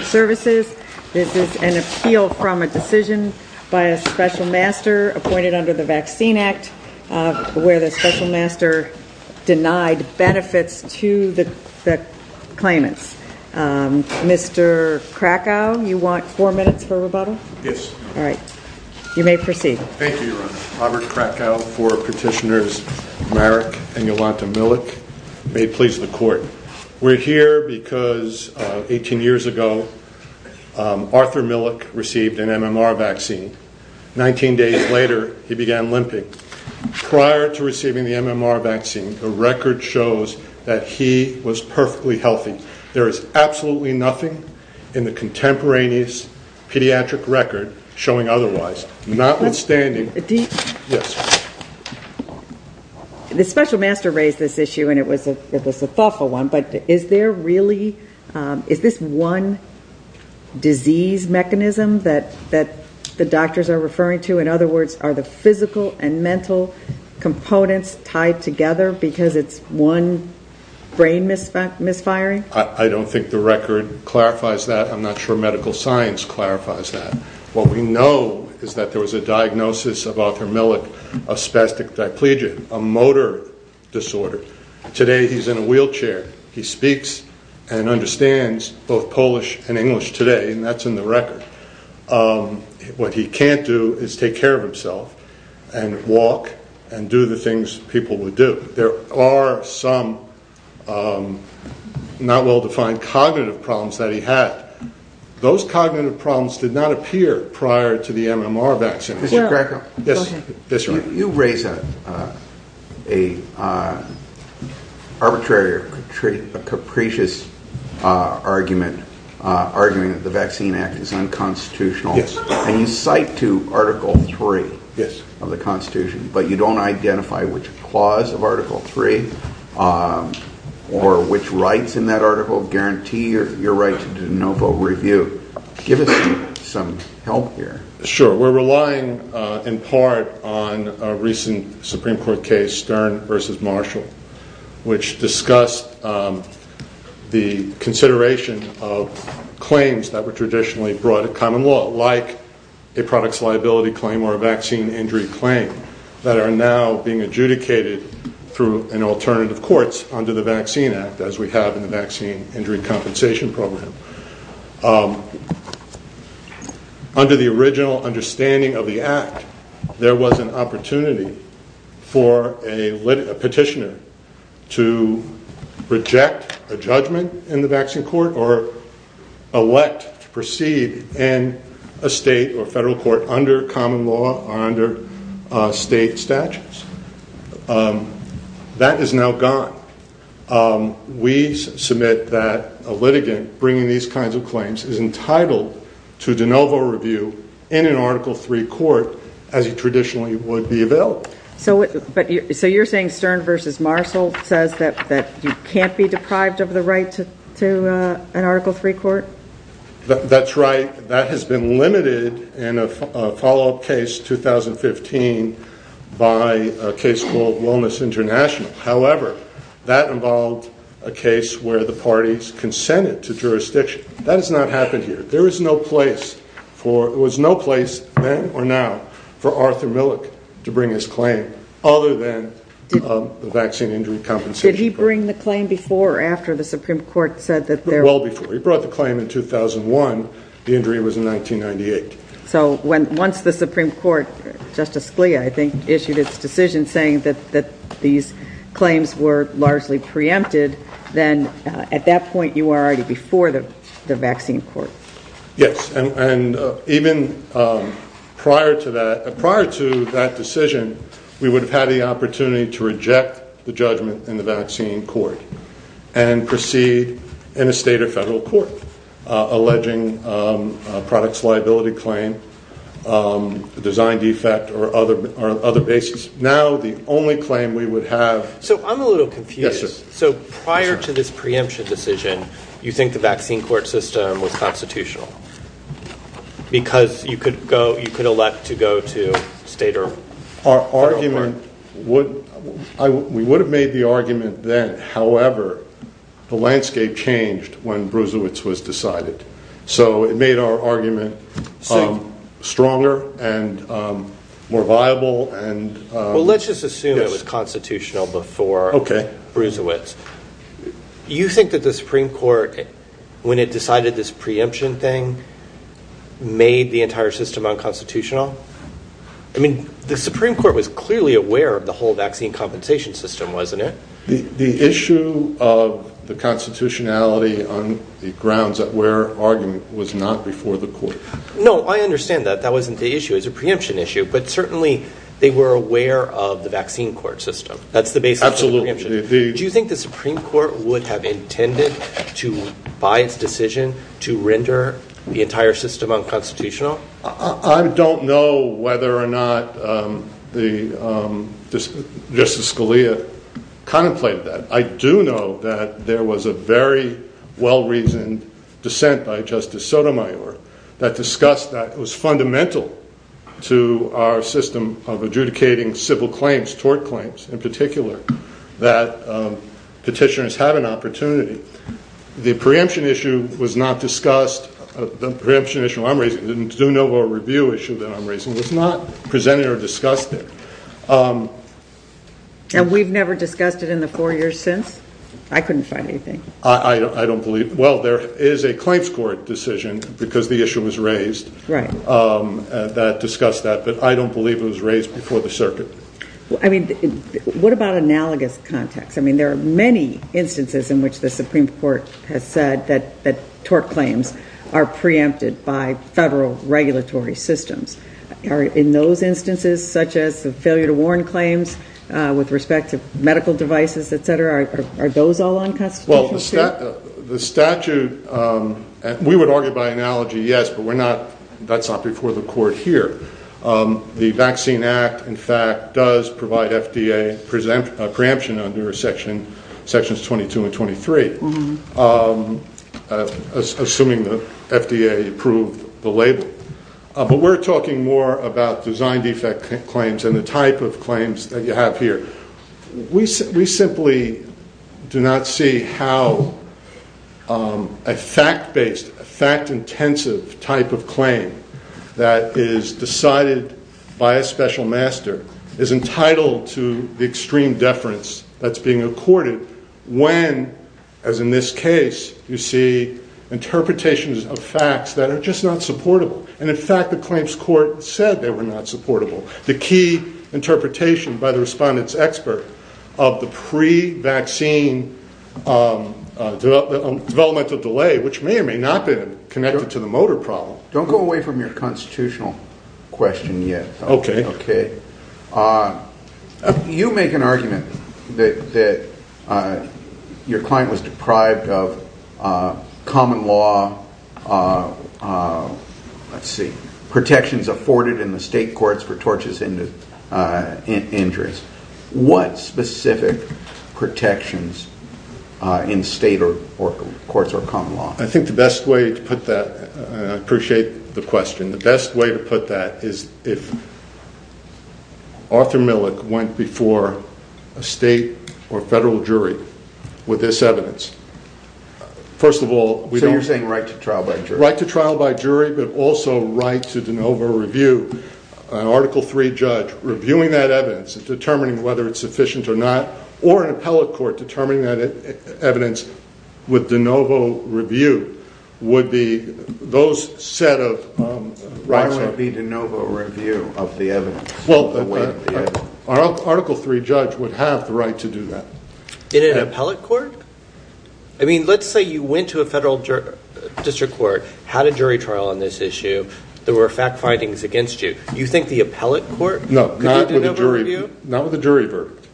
Services. This is an appeal from a decision by a special master appointed under the Vaccine Act, where the special master denied benefits to the claimants. Mr. Krakow, you want four minutes for rebuttal? Yes. All right. You may proceed. Thank you, Your Honor. Robert Krakow for Petitioners Marik and Yolanta Milik. May it please the Court. We're here because 18 years ago, Arthur Milik received an MMR vaccine. 19 days later, he began limping. Prior to receiving the MMR vaccine, the record shows that he was perfectly healthy. There is absolutely nothing in the contemporaneous pediatric record showing otherwise. Notwithstanding... The special master raised this issue, and it was a thoughtful one, but is there really... is this one disease mechanism that the doctors are referring to? In other words, are the physical and mental components tied together because it's one brain misfiring? I don't think the record clarifies that. I'm not sure medical science clarifies that. What we know is that there was a diagnosis of Arthur Milik of spastic diplegia, a motor disorder. Today, he's in a wheelchair. He speaks and understands both Polish and English today, and that's in the record. What he can't do is take care of himself and walk and do the things people would do. There are some not well-defined cognitive problems that he had. Those cognitive problems did not appear prior to the MMR vaccine. Mr. Greco, you raise an arbitrary or capricious argument, arguing that the Vaccine Act is unconstitutional, and you cite to Article 3 of the Constitution, but you don't identify which clause of Article 3 or which rights in that article guarantee your right to do a no-vote review. Could you give us some help here? Sure. We're relying in part on a recent Supreme Court case, Stern v. Marshall, which discussed the consideration of claims that were traditionally brought to common law, like a products liability claim or a vaccine injury claim, that are now being adjudicated through alternative courts under the Vaccine Act, as we have in the Vaccine Injury Compensation Program. Under the original understanding of the Act, there was an opportunity for a petitioner to reject a judgment in the vaccine court or elect to proceed in a state or federal court under common law or under state statutes. That is now gone. We submit that a litigant bringing these kinds of claims is entitled to a no-vote review in an Article 3 court, as it traditionally would be available. So you're saying Stern v. Marshall says that you can't be deprived of the right to an Article 3 court? That's right. That has been limited in a follow-up case in 2015 by a case called Wellness International. However, that involved a case where the parties consented to jurisdiction. That has not happened here. There was no place then or now for Arthur Millick to bring his claim, other than the vaccine injury compensation. Did he bring the claim before or after the Supreme Court said that there... Well, before. He brought the claim in 2001. The injury was in 1998. So once the Supreme Court, Justice Scalia, I think, issued its decision saying that these claims were largely preempted, then at that point you were already before the vaccine court. Yes. And even prior to that decision, we would have had the opportunity to reject the judgment in the vaccine court and proceed in a state or federal court, alleging products liability claim, design defect, or other basis. Now the only claim we would have... So I'm a little confused. So prior to this preemption decision, you think the vaccine court system was constitutional because you could elect to go to state or federal court? Our argument would... We would have made the argument then. However, the landscape changed when Bruisewitz was decided. So it made our argument stronger and more viable. Well, let's just assume it was constitutional before Bruisewitz. You think that the Supreme Court, when it decided this preemption thing, made the entire system unconstitutional? I mean, the Supreme Court was clearly aware of the whole vaccine compensation system, wasn't it? The issue of the constitutionality on the grounds that we're arguing was not before the court. No, I understand that. That wasn't the issue. It was a preemption issue, but certainly they were aware of the vaccine court system. That's the basis of the preemption. Absolutely. Do you think the Supreme Court would have intended to, by its decision, to render the entire system unconstitutional? I don't know whether or not Justice Scalia contemplated that. I do know that there was a very well-reasoned dissent by Justice Sotomayor that discussed that it was fundamental to our system of adjudicating civil claims, tort claims in particular, that petitioners had an opportunity. The preemption issue was not discussed. The preemption issue I'm raising, the Zunova review issue that I'm raising, was not presented or discussed there. And we've never discussed it in the four years since? I couldn't find anything. I don't believe – well, there is a claims court decision, because the issue was raised, that discussed that, but I don't believe it was raised before the circuit. I mean, what about analogous contexts? I mean, there are many instances in which the Supreme Court has said that tort claims are preempted by federal regulatory systems. In those instances, such as the failure to warn claims with respect to medical devices, et cetera, are those all unconstitutional, too? Well, the statute – we would argue by analogy, yes, but we're not – that's not before the court here. The Vaccine Act, in fact, does provide FDA preemption under Sections 22 and 23, assuming the FDA approved the label. But we're talking more about design defect claims and the type of claims that you have here. We simply do not see how a fact-based, fact-intensive type of claim that is decided by a special master is entitled to the extreme deference that's being accorded when, as in this case, you see interpretations of facts that are just not supportable. And, in fact, the claims court said they were not supportable. The key interpretation by the respondent's expert of the pre-vaccine developmental delay, which may or may not have been connected to the motor problem. Don't go away from your constitutional question yet. Okay. You make an argument that your client was deprived of common law protections afforded in the state courts for torches and injuries. What specific protections in state courts or common law? I think the best way to put that – I appreciate the question. The best way to put that is if Arthur Millick went before a state or federal jury with this evidence. First of all – So you're saying right to trial by jury? Right to trial by jury, but also right to de novo review. An Article III judge reviewing that evidence and determining whether it's sufficient or not, with de novo review, would those set of rights – Why would it be de novo review of the evidence? Well, an Article III judge would have the right to do that. In an appellate court? I mean, let's say you went to a federal district court, had a jury trial on this issue. There were fact findings against you. You think the appellate court could do de novo review? No, not with a jury verdict.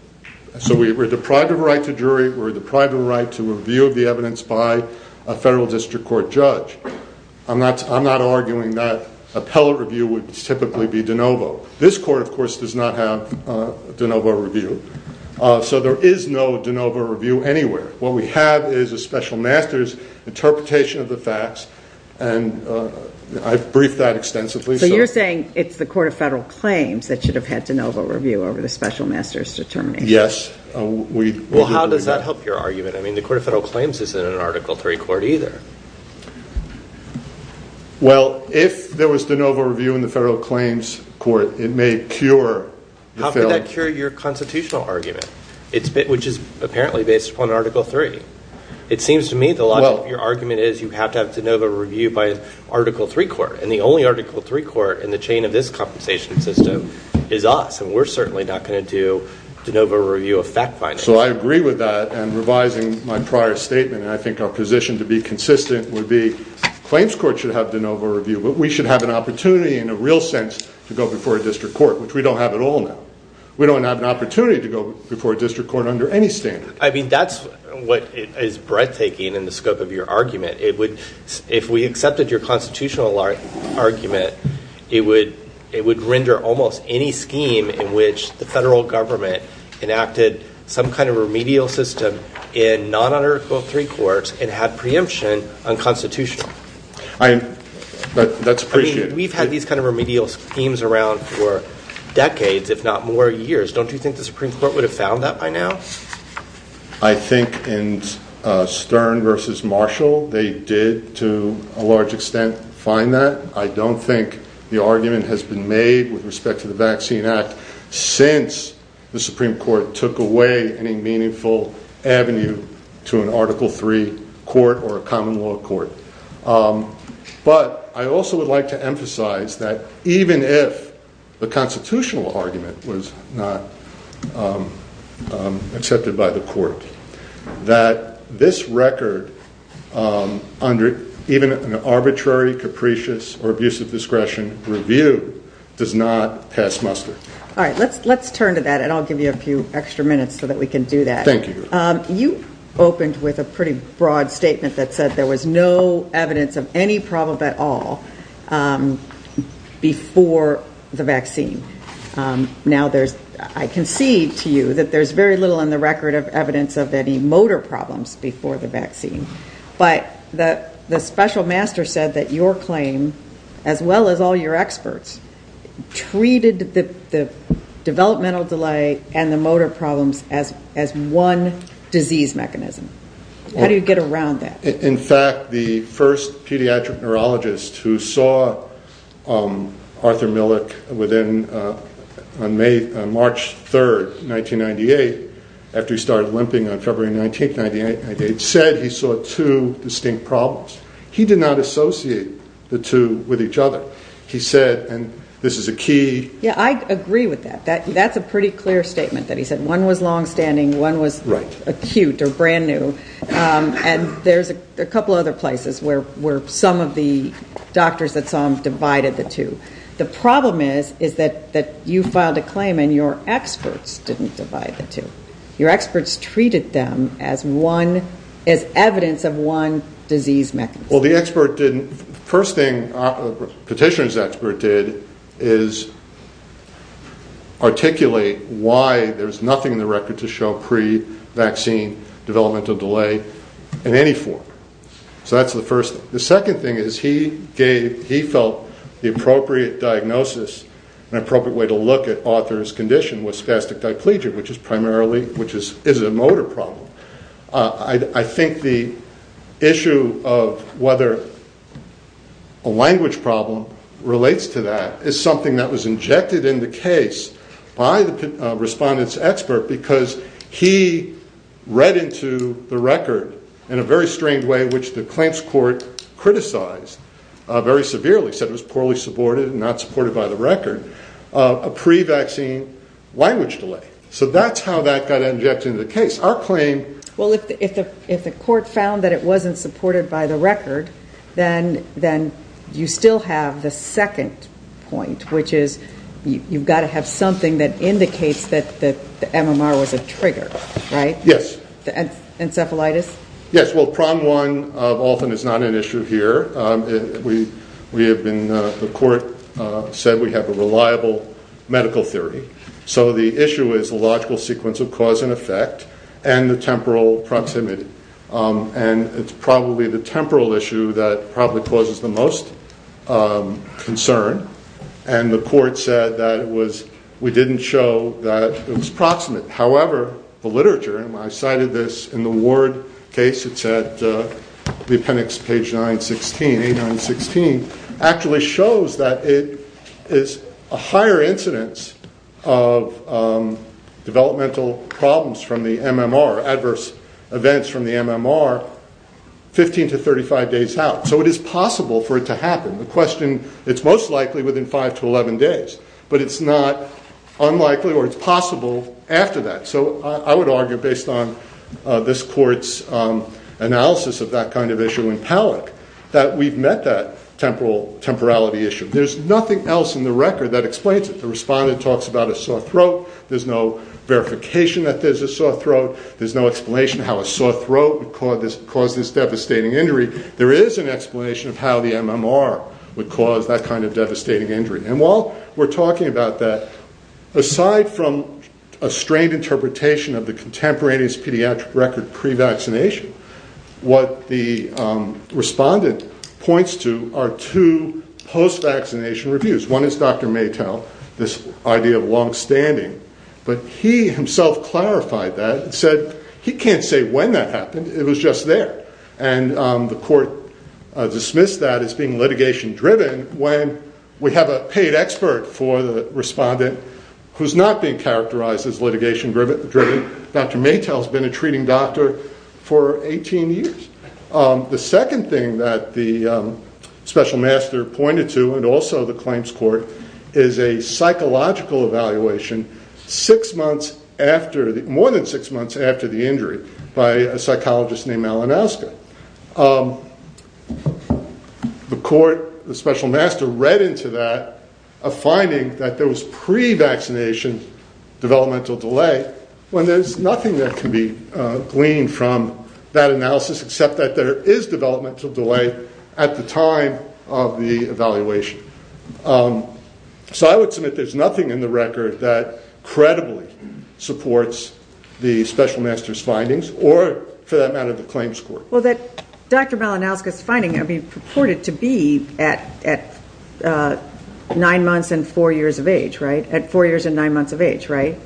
So we're deprived of a right to jury. We're deprived of a right to review of the evidence by a federal district court judge. I'm not arguing that appellate review would typically be de novo. This court, of course, does not have de novo review. So there is no de novo review anywhere. What we have is a special master's interpretation of the facts, and I've briefed that extensively. So you're saying it's the Court of Federal Claims that should have had de novo review over the special master's determination? Yes. Well, how does that help your argument? I mean, the Court of Federal Claims isn't in an Article III court either. Well, if there was de novo review in the Federal Claims Court, it may cure – How could that cure your constitutional argument, which is apparently based upon Article III? It seems to me the logic of your argument is you have to have de novo review by an Article III court, and the only Article III court in the chain of this compensation system is us, and we're certainly not going to do de novo review of fact findings. So I agree with that, and revising my prior statement, and I think our position to be consistent would be the Claims Court should have de novo review, but we should have an opportunity in a real sense to go before a district court, which we don't have at all now. We don't have an opportunity to go before a district court under any standard. I mean, that's what is breathtaking in the scope of your argument. If we accepted your constitutional argument, it would render almost any scheme in which the federal government enacted some kind of remedial system in non-Article III courts and had preemption unconstitutional. That's appreciated. I mean, we've had these kind of remedial schemes around for decades, if not more years. Don't you think the Supreme Court would have found that by now? I think in Stern v. Marshall they did, to a large extent, find that. I don't think the argument has been made with respect to the Vaccine Act since the Supreme Court took away any meaningful avenue to an Article III court or a common law court. But I also would like to emphasize that even if the constitutional argument was not accepted by the court, that this record under even an arbitrary, capricious, or abusive discretion review does not pass muster. All right, let's turn to that, and I'll give you a few extra minutes so that we can do that. Thank you. You opened with a pretty broad statement that said there was no evidence of any problem at all before the vaccine. Now, I concede to you that there's very little in the record of evidence of any motor problems before the vaccine. But the special master said that your claim, as well as all your experts, treated the developmental delay and the motor problems as one disease mechanism. How do you get around that? In fact, the first pediatric neurologist who saw Arthur Millick on March 3, 1998, after he started limping on February 19, 1998, said he saw two distinct problems. He did not associate the two with each other. He said, and this is a key. Yeah, I agree with that. That's a pretty clear statement that he said one was longstanding, one was acute or brand new. And there's a couple other places where some of the doctors that saw him divided the two. The problem is that you filed a claim and your experts didn't divide the two. Your experts treated them as evidence of one disease mechanism. Well, the expert didn't. The first thing a petitioner's expert did is articulate why there's nothing in the record to show pre-vaccine developmental delay in any form. So that's the first thing. The second thing is he felt the appropriate diagnosis, an appropriate way to look at Arthur's condition, was spastic diplegia, which is primarily a motor problem. I think the issue of whether a language problem relates to that is something that was injected in the case by the respondent's expert because he read into the record in a very strange way, which the claims court criticized very severely, said it was poorly supported and not supported by the record, a pre-vaccine language delay. So that's how that got injected into the case. Well, if the court found that it wasn't supported by the record, then you still have the second point, which is you've got to have something that indicates that the MMR was a trigger, right? Yes. Encephalitis? Yes. Well, PROM1 often is not an issue here. The court said we have a reliable medical theory. So the issue is the logical sequence of cause and effect and the temporal proximity. And it's probably the temporal issue that probably causes the most concern, and the court said that we didn't show that it was proximate. However, the literature, and I cited this in the Ward case, it's at the appendix, page 916, actually shows that it is a higher incidence of developmental problems from the MMR, adverse events from the MMR, 15 to 35 days out. So it is possible for it to happen. The question, it's most likely within 5 to 11 days, but it's not unlikely or it's possible after that. So I would argue, based on this court's analysis of that kind of issue in Palak, that we've met that temporality issue. There's nothing else in the record that explains it. The respondent talks about a sore throat. There's no verification that there's a sore throat. There's no explanation how a sore throat would cause this devastating injury. There is an explanation of how the MMR would cause that kind of devastating injury. And while we're talking about that, aside from a strained interpretation of the contemporaneous pediatric record pre-vaccination, what the respondent points to are two post-vaccination reviews. One is Dr. Maytel, this idea of longstanding, but he himself clarified that and said, he can't say when that happened, it was just there. And the court dismissed that as being litigation-driven when we have a paid expert for the respondent who's not being characterized as litigation-driven. Dr. Maytel has been a treating doctor for 18 years. The second thing that the special master pointed to, and also the claims court, is a psychological evaluation more than six months after the injury by a psychologist named Alan Oska. The court, the special master, read into that a finding that there was pre-vaccination developmental delay when there's nothing that can be gleaned from that analysis except that there is developmental delay at the time of the evaluation. So I would submit there's nothing in the record that credibly supports the special master's findings or, for that matter, the claims court. Well, that Dr. Malinowski's finding would be purported to be at nine months and four years of age, right? At four years and nine months of age, right?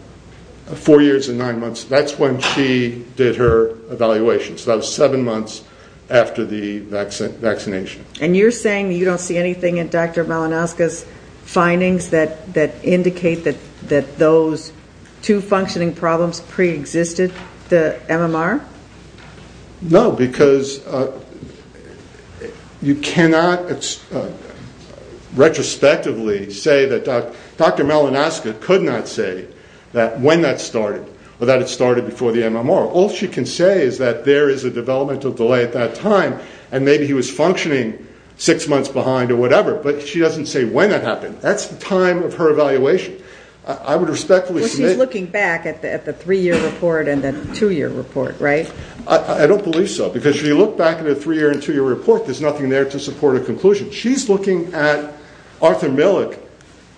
Four years and nine months, that's when she did her evaluation. So that was seven months after the vaccination. And you're saying that you don't see anything in Dr. Malinowski's findings that indicate that those two functioning problems preexisted the MMR? No, because you cannot retrospectively say that Dr. Malinowski could not say when that started or that it started before the MMR. All she can say is that there is a developmental delay at that time and maybe he was functioning six months behind or whatever, but she doesn't say when that happened. That's the time of her evaluation. I would respectfully submit... Well, she's looking back at the three-year report and the two-year report, right? I don't believe so, because if you look back at a three-year and two-year report, there's nothing there to support a conclusion. She's looking at Arthur Millick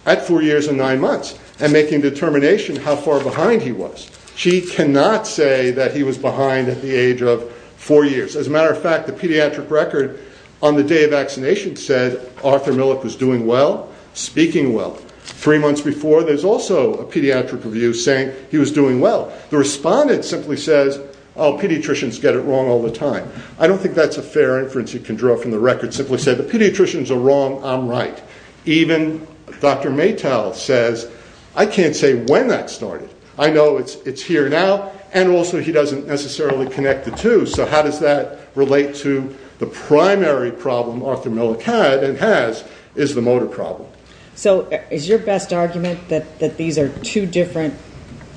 at four years and nine months and making a determination how far behind he was. She cannot say that he was behind at the age of four years. As a matter of fact, the pediatric record on the day of vaccination said Arthur Millick was doing well, speaking well. Three months before, there's also a pediatric review saying he was doing well. The respondent simply says, oh, pediatricians get it wrong all the time. I don't think that's a fair inference you can draw from the record. Simply said, the pediatricians are wrong, I'm right. Even Dr. Maytel says, I can't say when that started. I know it's here now, and also he doesn't necessarily connect the two, so how does that relate to the primary problem Arthur Millick had and has is the motor problem. So is your best argument that these are two different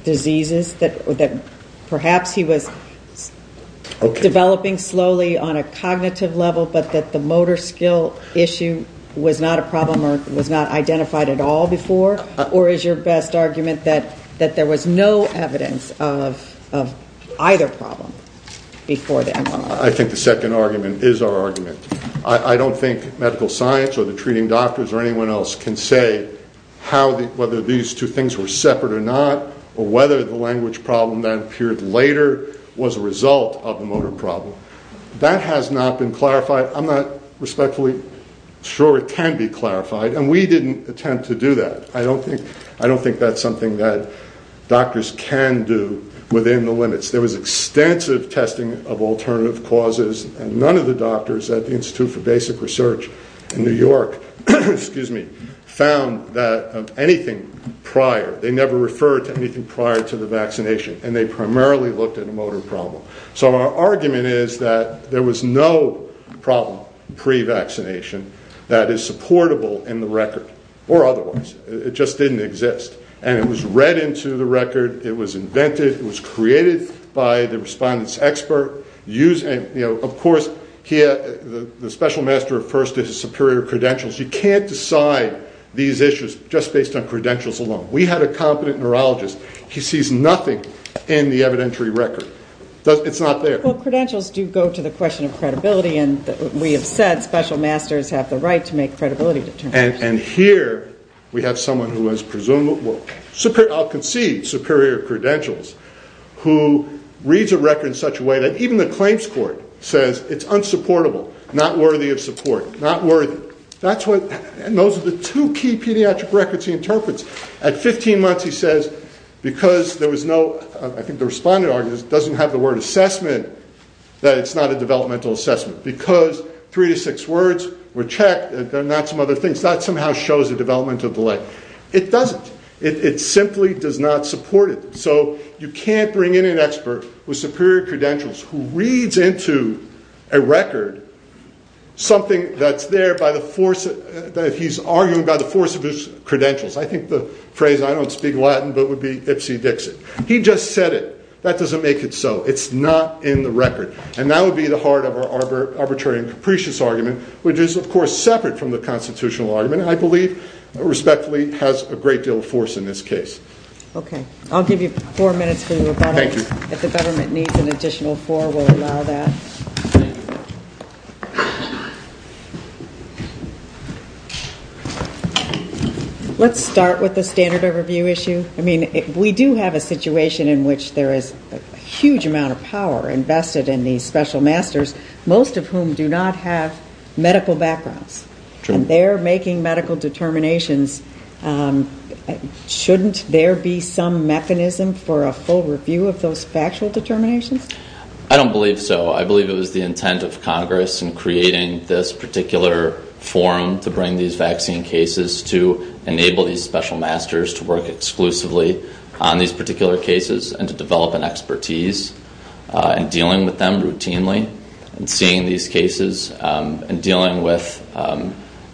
diseases, that perhaps he was developing slowly on a cognitive level, but that the motor skill issue was not a problem or was not identified at all before? Or is your best argument that there was no evidence of either problem before that? I think the second argument is our argument. I don't think medical science or the treating doctors or anyone else can say whether these two things were separate or not, or whether the language problem that appeared later was a result of the motor problem. That has not been clarified. I'm not respectfully sure it can be clarified, and we didn't attempt to do that. I don't think that's something that doctors can do within the limits. There was extensive testing of alternative causes, and none of the doctors at the Institute for Basic Research in New York found anything prior. They never referred to anything prior to the vaccination, and they primarily looked at the motor problem. So our argument is that there was no problem pre-vaccination that is supportable in the record, or otherwise. It just didn't exist, and it was read into the record. It was invented. It was created by the respondent's expert. Of course, the special master refers to his superior credentials. You can't decide these issues just based on credentials alone. We had a competent neurologist. He sees nothing in the evidentiary record. It's not there. Well, credentials do go to the question of credibility, and we have said special masters have the right to make credibility determinations. And here we have someone who has, I'll concede, superior credentials, who reads a record in such a way that even the claims court says it's unsupportable, not worthy of support, not worthy. And those are the two key pediatric records he interprets. At 15 months, he says, because there was no, I think the respondent argues, doesn't have the word assessment, that it's not a developmental assessment. Because three to six words were checked and not some other things. That somehow shows a developmental delay. It doesn't. It simply does not support it. So you can't bring in an expert with superior credentials who reads into a record something that's there by the force, that he's arguing by the force of his credentials. I think the phrase, I don't speak Latin, but it would be Ipsy Dixit. He just said it. That doesn't make it so. It's not in the record. And that would be the heart of our arbitrary and capricious argument, which is, of course, separate from the constitutional argument, and I believe respectfully has a great deal of force in this case. Okay. I'll give you four minutes for your rebuttal. Thank you. If the government needs an additional four, we'll allow that. Let's start with the standard overview issue. I mean, we do have a situation in which there is a huge amount of power invested in these special masters, most of whom do not have medical backgrounds. And they're making medical determinations. Shouldn't there be some mechanism for a full review of those factual determinations? I don't believe so. I believe it was the intent of Congress in creating this particular forum to bring these vaccine cases to enable these special masters to work exclusively on these particular cases and to develop an expertise in dealing with them routinely and seeing these cases and dealing with,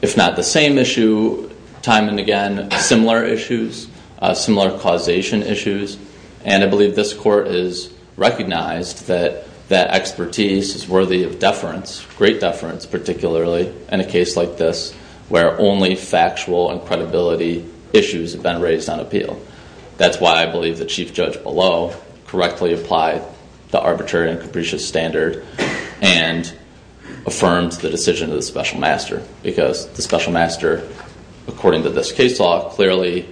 if not the same issue time and again, similar issues, similar causation issues. And I believe this court has recognized that that expertise is worthy of deference, great deference, particularly in a case like this where only factual and credibility issues have been raised on appeal. That's why I believe the chief judge below correctly applied the arbitrary and capricious standard and affirmed the decision of the special master, because the special master, according to this case law, clearly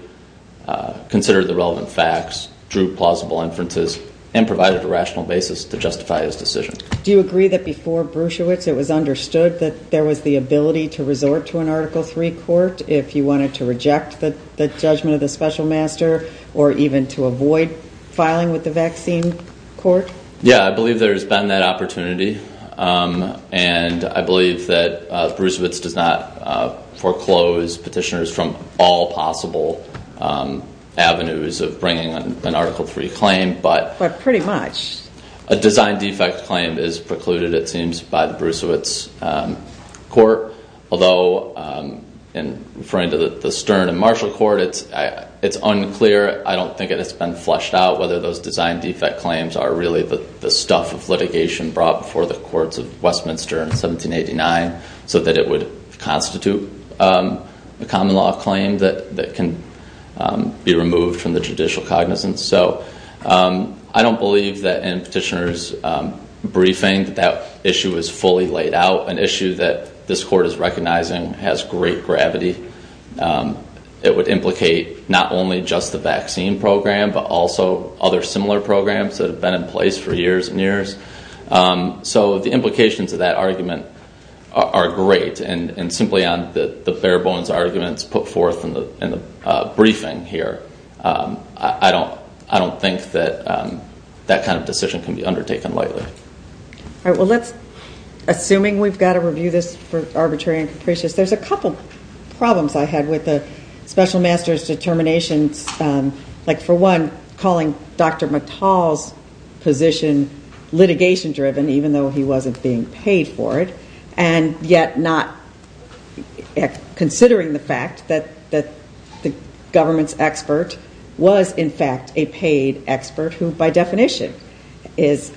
considered the relevant facts, drew plausible inferences, and provided a rational basis to justify his decision. Do you agree that before Brusiewicz it was understood that there was the ability to resort to an Article III court if you wanted to reject the judgment of the special master or even to avoid filing with the vaccine court? Yeah, I believe there has been that opportunity, and I believe that Brusiewicz does not foreclose petitioners from all possible avenues of bringing an Article III claim. But pretty much. A design defect claim is precluded, it seems, by the Brusiewicz court, although in referring to the Stern and Marshall court, it's unclear. I don't think it has been fleshed out whether those design defect claims are really the stuff of litigation brought before the courts of Westminster in 1789 so that it would constitute a common law claim that can be removed from the judicial cognizance. I don't believe that in petitioners' briefing that that issue is fully laid out, an issue that this court is recognizing has great gravity. It would implicate not only just the vaccine program, but also other similar programs that have been in place for years and years. So the implications of that argument are great, and simply on the bare-bones arguments put forth in the briefing here. I don't think that that kind of decision can be undertaken lightly. All right, well, assuming we've got to review this for arbitrary and capricious, there's a couple problems I had with the special master's determinations, like, for one, calling Dr. McToll's position litigation-driven, even though he wasn't being paid for it, and yet not considering the fact that the government's expert was, in fact, a paid expert, who by definition is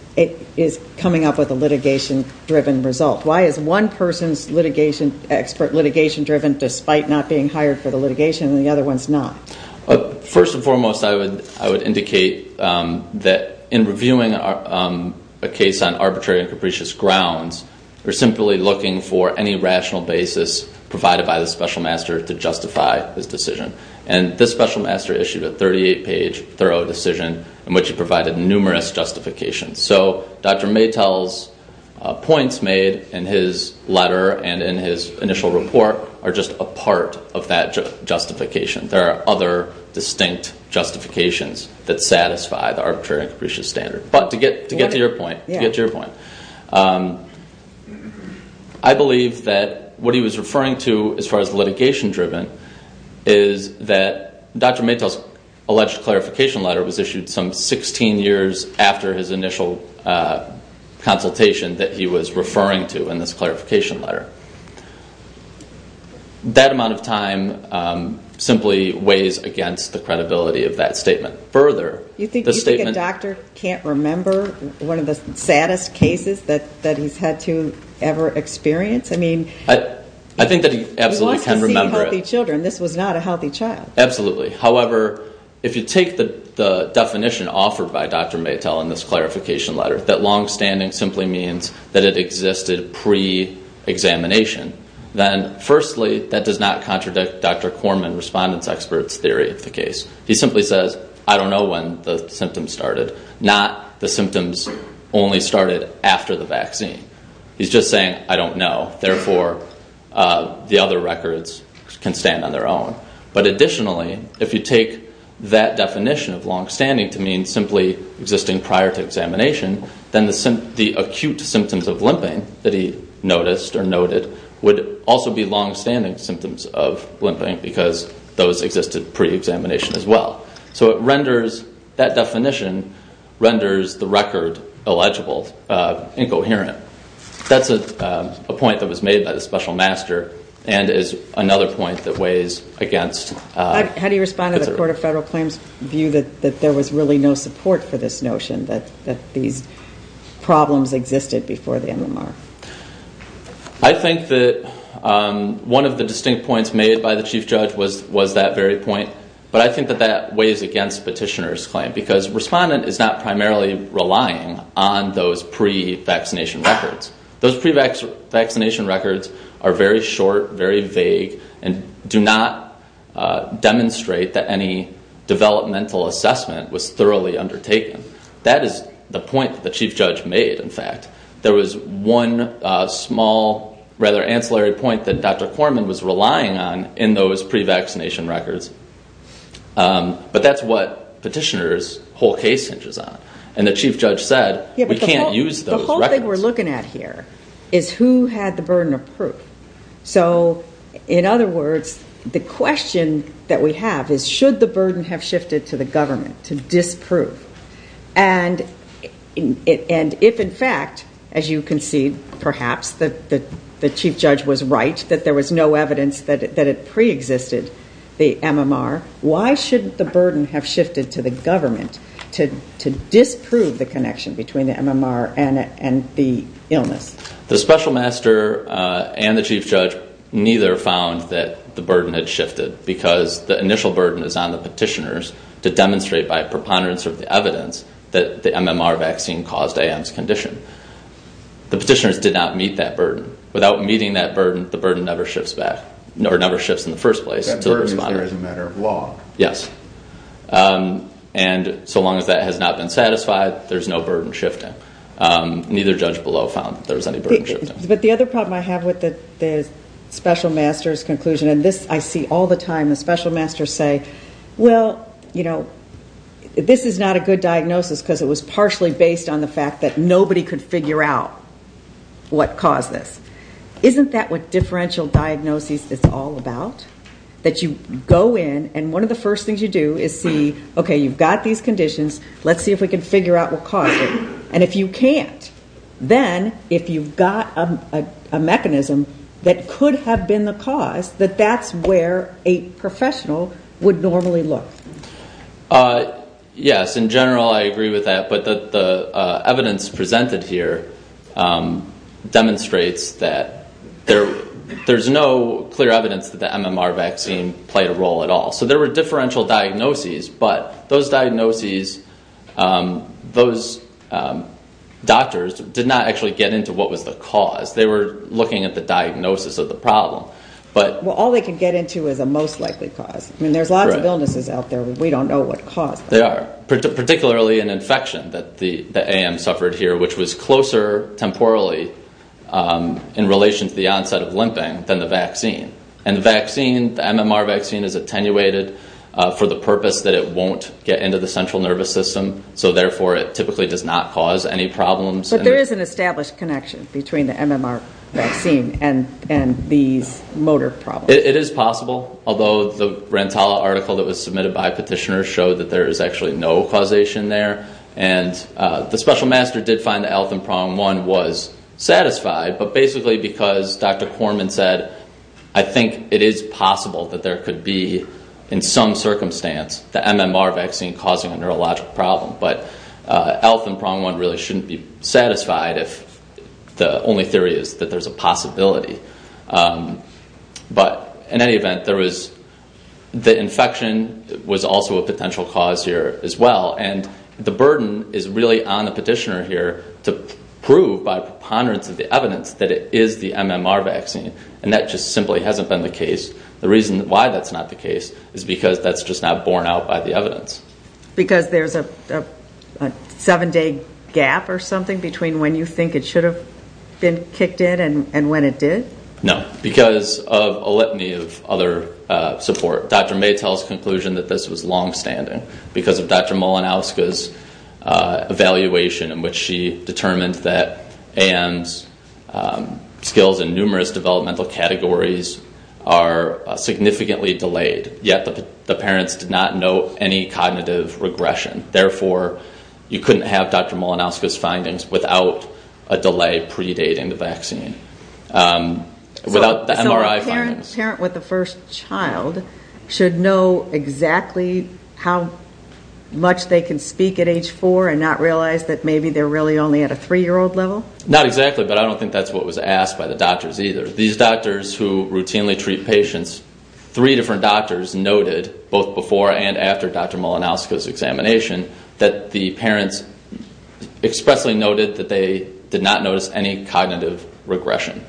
coming up with a litigation-driven result. Why is one person's expert litigation-driven despite not being hired for the litigation and the other one's not? First and foremost, I would indicate that in reviewing a case on arbitrary and capricious grounds, we're simply looking for any rational basis provided by the special master to justify his decision. And this special master issued a 38-page thorough decision in which he provided numerous justifications. So Dr. McToll's points made in his letter and in his initial report are just a part of that justification. There are other distinct justifications that satisfy the arbitrary and capricious standard. But to get to your point, I believe that what he was referring to as far as litigation-driven is that Dr. McToll's alleged clarification letter was issued some 16 years after his initial consultation that he was referring to in this clarification letter. That amount of time simply weighs against the credibility of that statement. Do you think a doctor can't remember one of the saddest cases that he's had to ever experience? I mean, he wants to see healthy children. This was not a healthy child. Absolutely. However, if you take the definition offered by Dr. McToll in this clarification letter that long-standing simply means that it existed pre-examination, then firstly, that does not contradict Dr. Korman, respondent's expert's theory of the case. He simply says, I don't know when the symptoms started, not the symptoms only started after the vaccine. He's just saying, I don't know. Therefore, the other records can stand on their own. But additionally, if you take that definition of long-standing to mean simply existing prior to examination, then the acute symptoms of limping that he noticed or noted would also be long-standing symptoms of limping because those existed pre-examination as well. So that definition renders the record illegible, incoherent. That's a point that was made by the special master and is another point that weighs against- How do you respond to the Court of Federal Claims' view that there was really no support for this notion, that these problems existed before the MMR? I think that one of the distinct points made by the Chief Judge was that very point, but I think that that weighs against petitioner's claim because respondent is not primarily relying on those pre-vaccination records. Those pre-vaccination records are very short, very vague, and do not demonstrate that any developmental assessment was thoroughly undertaken. That is the point that the Chief Judge made, in fact. There was one small, rather ancillary point that Dr. Korman was relying on in those pre-vaccination records, but that's what petitioner's whole case hinges on. The Chief Judge said, we can't use those records. The whole thing we're looking at here is who had the burden of proof. In other words, the question that we have is, should the burden have shifted to the government to disprove? And if, in fact, as you can see, perhaps the Chief Judge was right, that there was no evidence that it pre-existed, the MMR, why shouldn't the burden have shifted to the government to disprove the connection between the MMR and the illness? The Special Master and the Chief Judge neither found that the burden had shifted because the initial burden is on the petitioners to demonstrate by preponderance of the evidence that the MMR vaccine caused A.M.'s condition. The petitioners did not meet that burden. Without meeting that burden, the burden never shifts back, or never shifts in the first place. That burden is there as a matter of law. Yes. And so long as that has not been satisfied, there's no burden shifting. Neither judge below found that there was any burden shifting. But the other problem I have with the Special Master's conclusion, and this I see all the time, the Special Masters say, well, you know, this is not a good diagnosis because it was partially based on the fact that nobody could figure out what caused this. Isn't that what differential diagnosis is all about? That you go in, and one of the first things you do is see, okay, you've got these conditions. Let's see if we can figure out what caused it. And if you can't, then if you've got a mechanism that could have been the cause, that that's where a professional would normally look. Yes, in general I agree with that. But the evidence presented here demonstrates that there's no clear evidence that the MMR vaccine played a role at all. So there were differential diagnoses, but those diagnoses, those doctors did not actually get into what was the cause. They were looking at the diagnosis of the problem. Well, all they can get into is a most likely cause. I mean, there's lots of illnesses out there. We don't know what caused them. They are, particularly an infection that the AM suffered here, which was closer temporally in relation to the onset of limping than the vaccine. And the vaccine, the MMR vaccine is attenuated for the purpose that it won't get into the central nervous system, so therefore it typically does not cause any problems. But there is an established connection between the MMR vaccine and these motor problems. It is possible, although the Rantala article that was submitted by petitioners showed that there is actually no causation there. And the special master did find that Altham Prong 1 was satisfied, but basically because Dr. Korman said, I think it is possible that there could be, in some circumstance, the MMR vaccine causing a neurological problem. But Altham Prong 1 really shouldn't be satisfied if the only theory is that there's a possibility. But in any event, the infection was also a potential cause here as well. And the burden is really on the petitioner here to prove by preponderance of the evidence that it is the MMR vaccine. And that just simply hasn't been the case. The reason why that's not the case is because that's just not borne out by the evidence. Because there's a seven-day gap or something between when you think it should have been kicked in and when it did? No, because of a litany of other support. Dr. May tell us the conclusion that this was long-standing because of Dr. Malinowska's evaluation in which she determined that A.M.'s skills in numerous developmental categories are significantly delayed. Yet the parents did not note any cognitive regression. Therefore, you couldn't have Dr. Malinowska's findings without a delay predating the vaccine. So a parent with a first child should know exactly how much they can speak at age four and not realize that maybe they're really only at a three-year-old level? Not exactly, but I don't think that's what was asked by the doctors either. These doctors who routinely treat patients, three different doctors noted, both before and after Dr. Malinowska's examination, that the parents expressly noted that they did not notice any cognitive regression.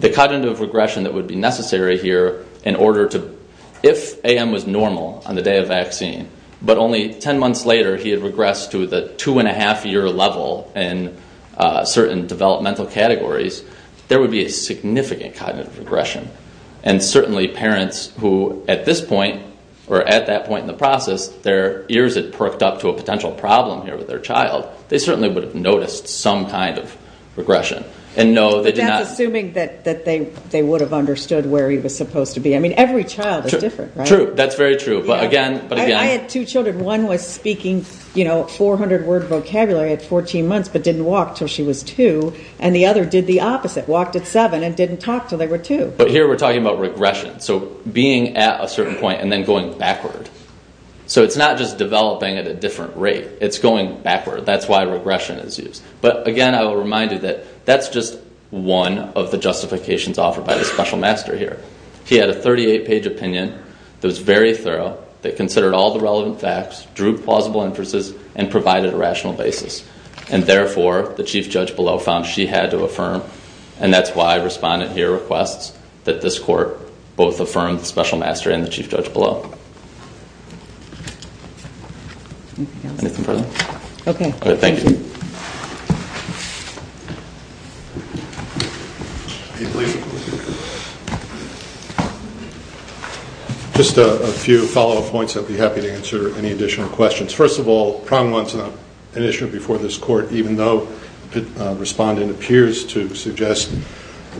The cognitive regression that would be necessary here in order to, if A.M. was normal on the day of vaccine, but only ten months later he had regressed to the two-and-a-half-year level in certain developmental categories, there would be a significant cognitive regression. And certainly parents who at this point, or at that point in the process, their ears had perked up to a potential problem here with their child, they certainly would have noticed some kind of regression. But that's assuming that they would have understood where he was supposed to be. I mean, every child is different, right? True, that's very true. I had two children. One was speaking 400-word vocabulary at 14 months but didn't walk until she was two, and the other did the opposite, walked at seven and didn't talk until they were two. But here we're talking about regression, so being at a certain point and then going backward. So it's not just developing at a different rate. It's going backward. That's why regression is used. But again, I will remind you that that's just one of the justifications offered by the special master here. He had a 38-page opinion that was very thorough, that considered all the relevant facts, drew plausible inferences, and provided a rational basis. And therefore, the chief judge below found she had to affirm, and that's why respondent here requests that this court both affirm the special master and the chief judge below. Anything further? Okay. All right, thank you. Just a few follow-up points. I'd be happy to answer any additional questions. First of all, prong one's not an issue before this court, even though respondent appears to suggest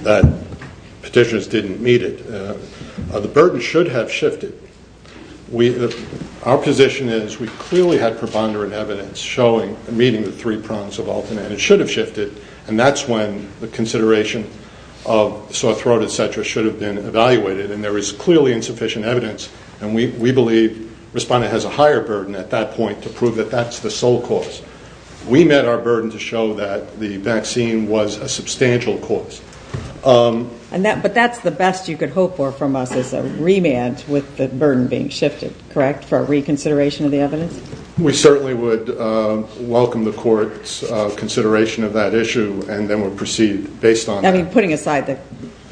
that petitioners didn't meet it. The burden should have shifted. Our position is we clearly had preponderant evidence showing and meeting the three prongs of Alton, and it should have shifted, and that's when the consideration of sore throat, et cetera, should have been evaluated, and there is clearly insufficient evidence. And we believe respondent has a higher burden at that point to prove that that's the sole cause. We met our burden to show that the vaccine was a substantial cause. But that's the best you could hope for from us is a remand with the burden being shifted, correct, for a reconsideration of the evidence? We certainly would welcome the court's consideration of that issue and then would proceed based on that. I mean, putting aside the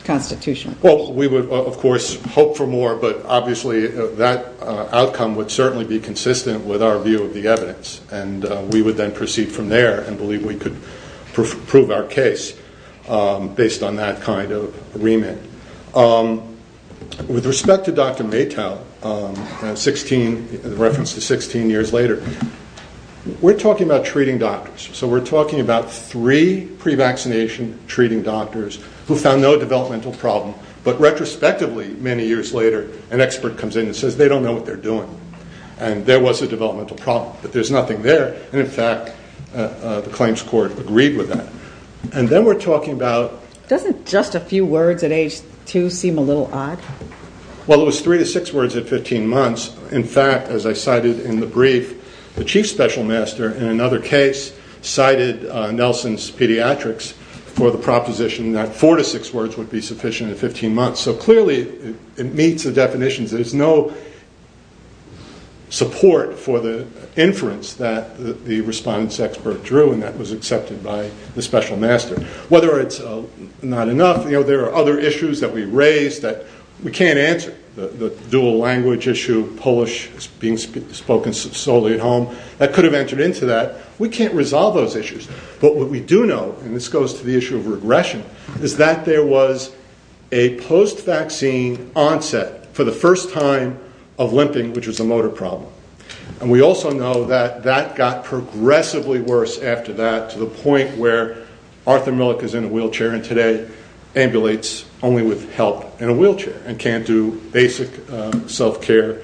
Constitution. Well, we would, of course, hope for more, but obviously that outcome would certainly be consistent with our view of the evidence, and we would then proceed from there and believe we could prove our case based on that kind of remand. With respect to Dr. Maytow, in reference to 16 years later, we're talking about treating doctors. So we're talking about three pre-vaccination treating doctors who found no developmental problem, but retrospectively, many years later, an expert comes in and says they don't know what they're doing, and there was a developmental problem, but there's nothing there, and in fact the claims court agreed with that. And then we're talking about... Doesn't just a few words at age two seem a little odd? Well, it was three to six words at 15 months. In fact, as I cited in the brief, the chief special master, in another case, cited Nelson's Pediatrics for the proposition that four to six words would be sufficient at 15 months. So clearly it meets the definitions. There's no support for the inference that the response expert drew, and that was accepted by the special master. Whether it's not enough, you know, there are other issues that we raised that we can't answer. The dual language issue, Polish being spoken solely at home, that could have entered into that. We can't resolve those issues. But what we do know, and this goes to the issue of regression, is that there was a post-vaccine onset for the first time of limping, which was a motor problem. And we also know that that got progressively worse after that to the point where Arthur Millick is in a wheelchair and today ambulates only with help in a wheelchair and can't do basic self-care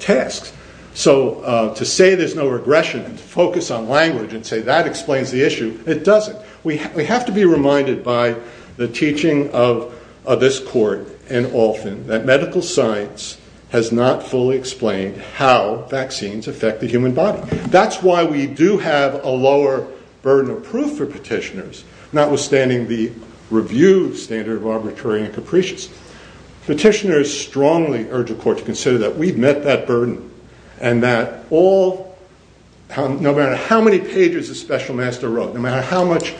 tasks. So to say there's no regression and to focus on language and say that explains the issue, it doesn't. We have to be reminded by the teaching of this court and often that medical science has not fully explained how vaccines affect the human body. That's why we do have a lower burden of proof for petitioners, notwithstanding the review standard of arbitrary and capricious. Petitioners strongly urge a court to consider that we've met that burden and that no matter how many pages the special master wrote, no matter how much,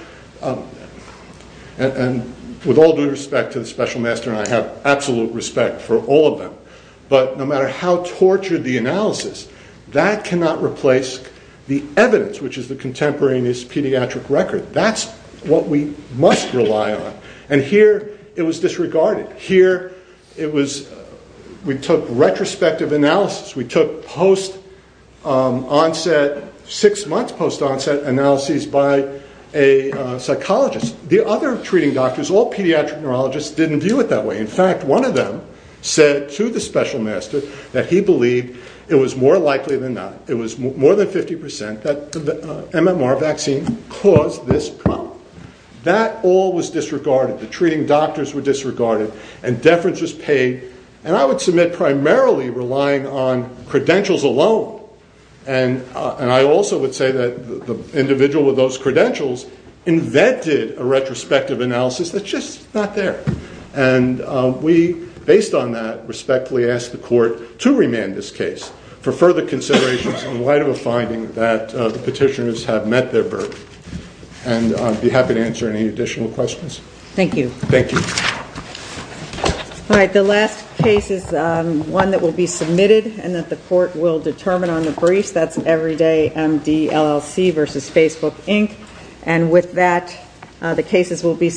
and with all due respect to the special master, and I have absolute respect for all of them, but no matter how tortured the analysis, that cannot replace the evidence, which is the contemporaneous pediatric record. That's what we must rely on. And here it was disregarded. Here we took retrospective analysis. We took six months post-onset analyses by a psychologist. The other treating doctors, all pediatric neurologists, didn't view it that way. In fact, one of them said to the special master that he believed it was more likely than not, it was more than 50% that the MMR vaccine caused this problem. That all was disregarded. The treating doctors were disregarded, and deference was paid, and I would submit primarily relying on credentials alone. And I also would say that the individual with those credentials invented a retrospective analysis that's just not there. And we, based on that, respectfully ask the court to remand this case for further considerations in light of a finding that the petitioners have met their burden. And I'd be happy to answer any additional questions. Thank you. Thank you. All right, the last case is one that will be submitted and that the court will determine on the briefs. That's Everyday MD, LLC v. Facebook, Inc. And with that, the cases will be submitted.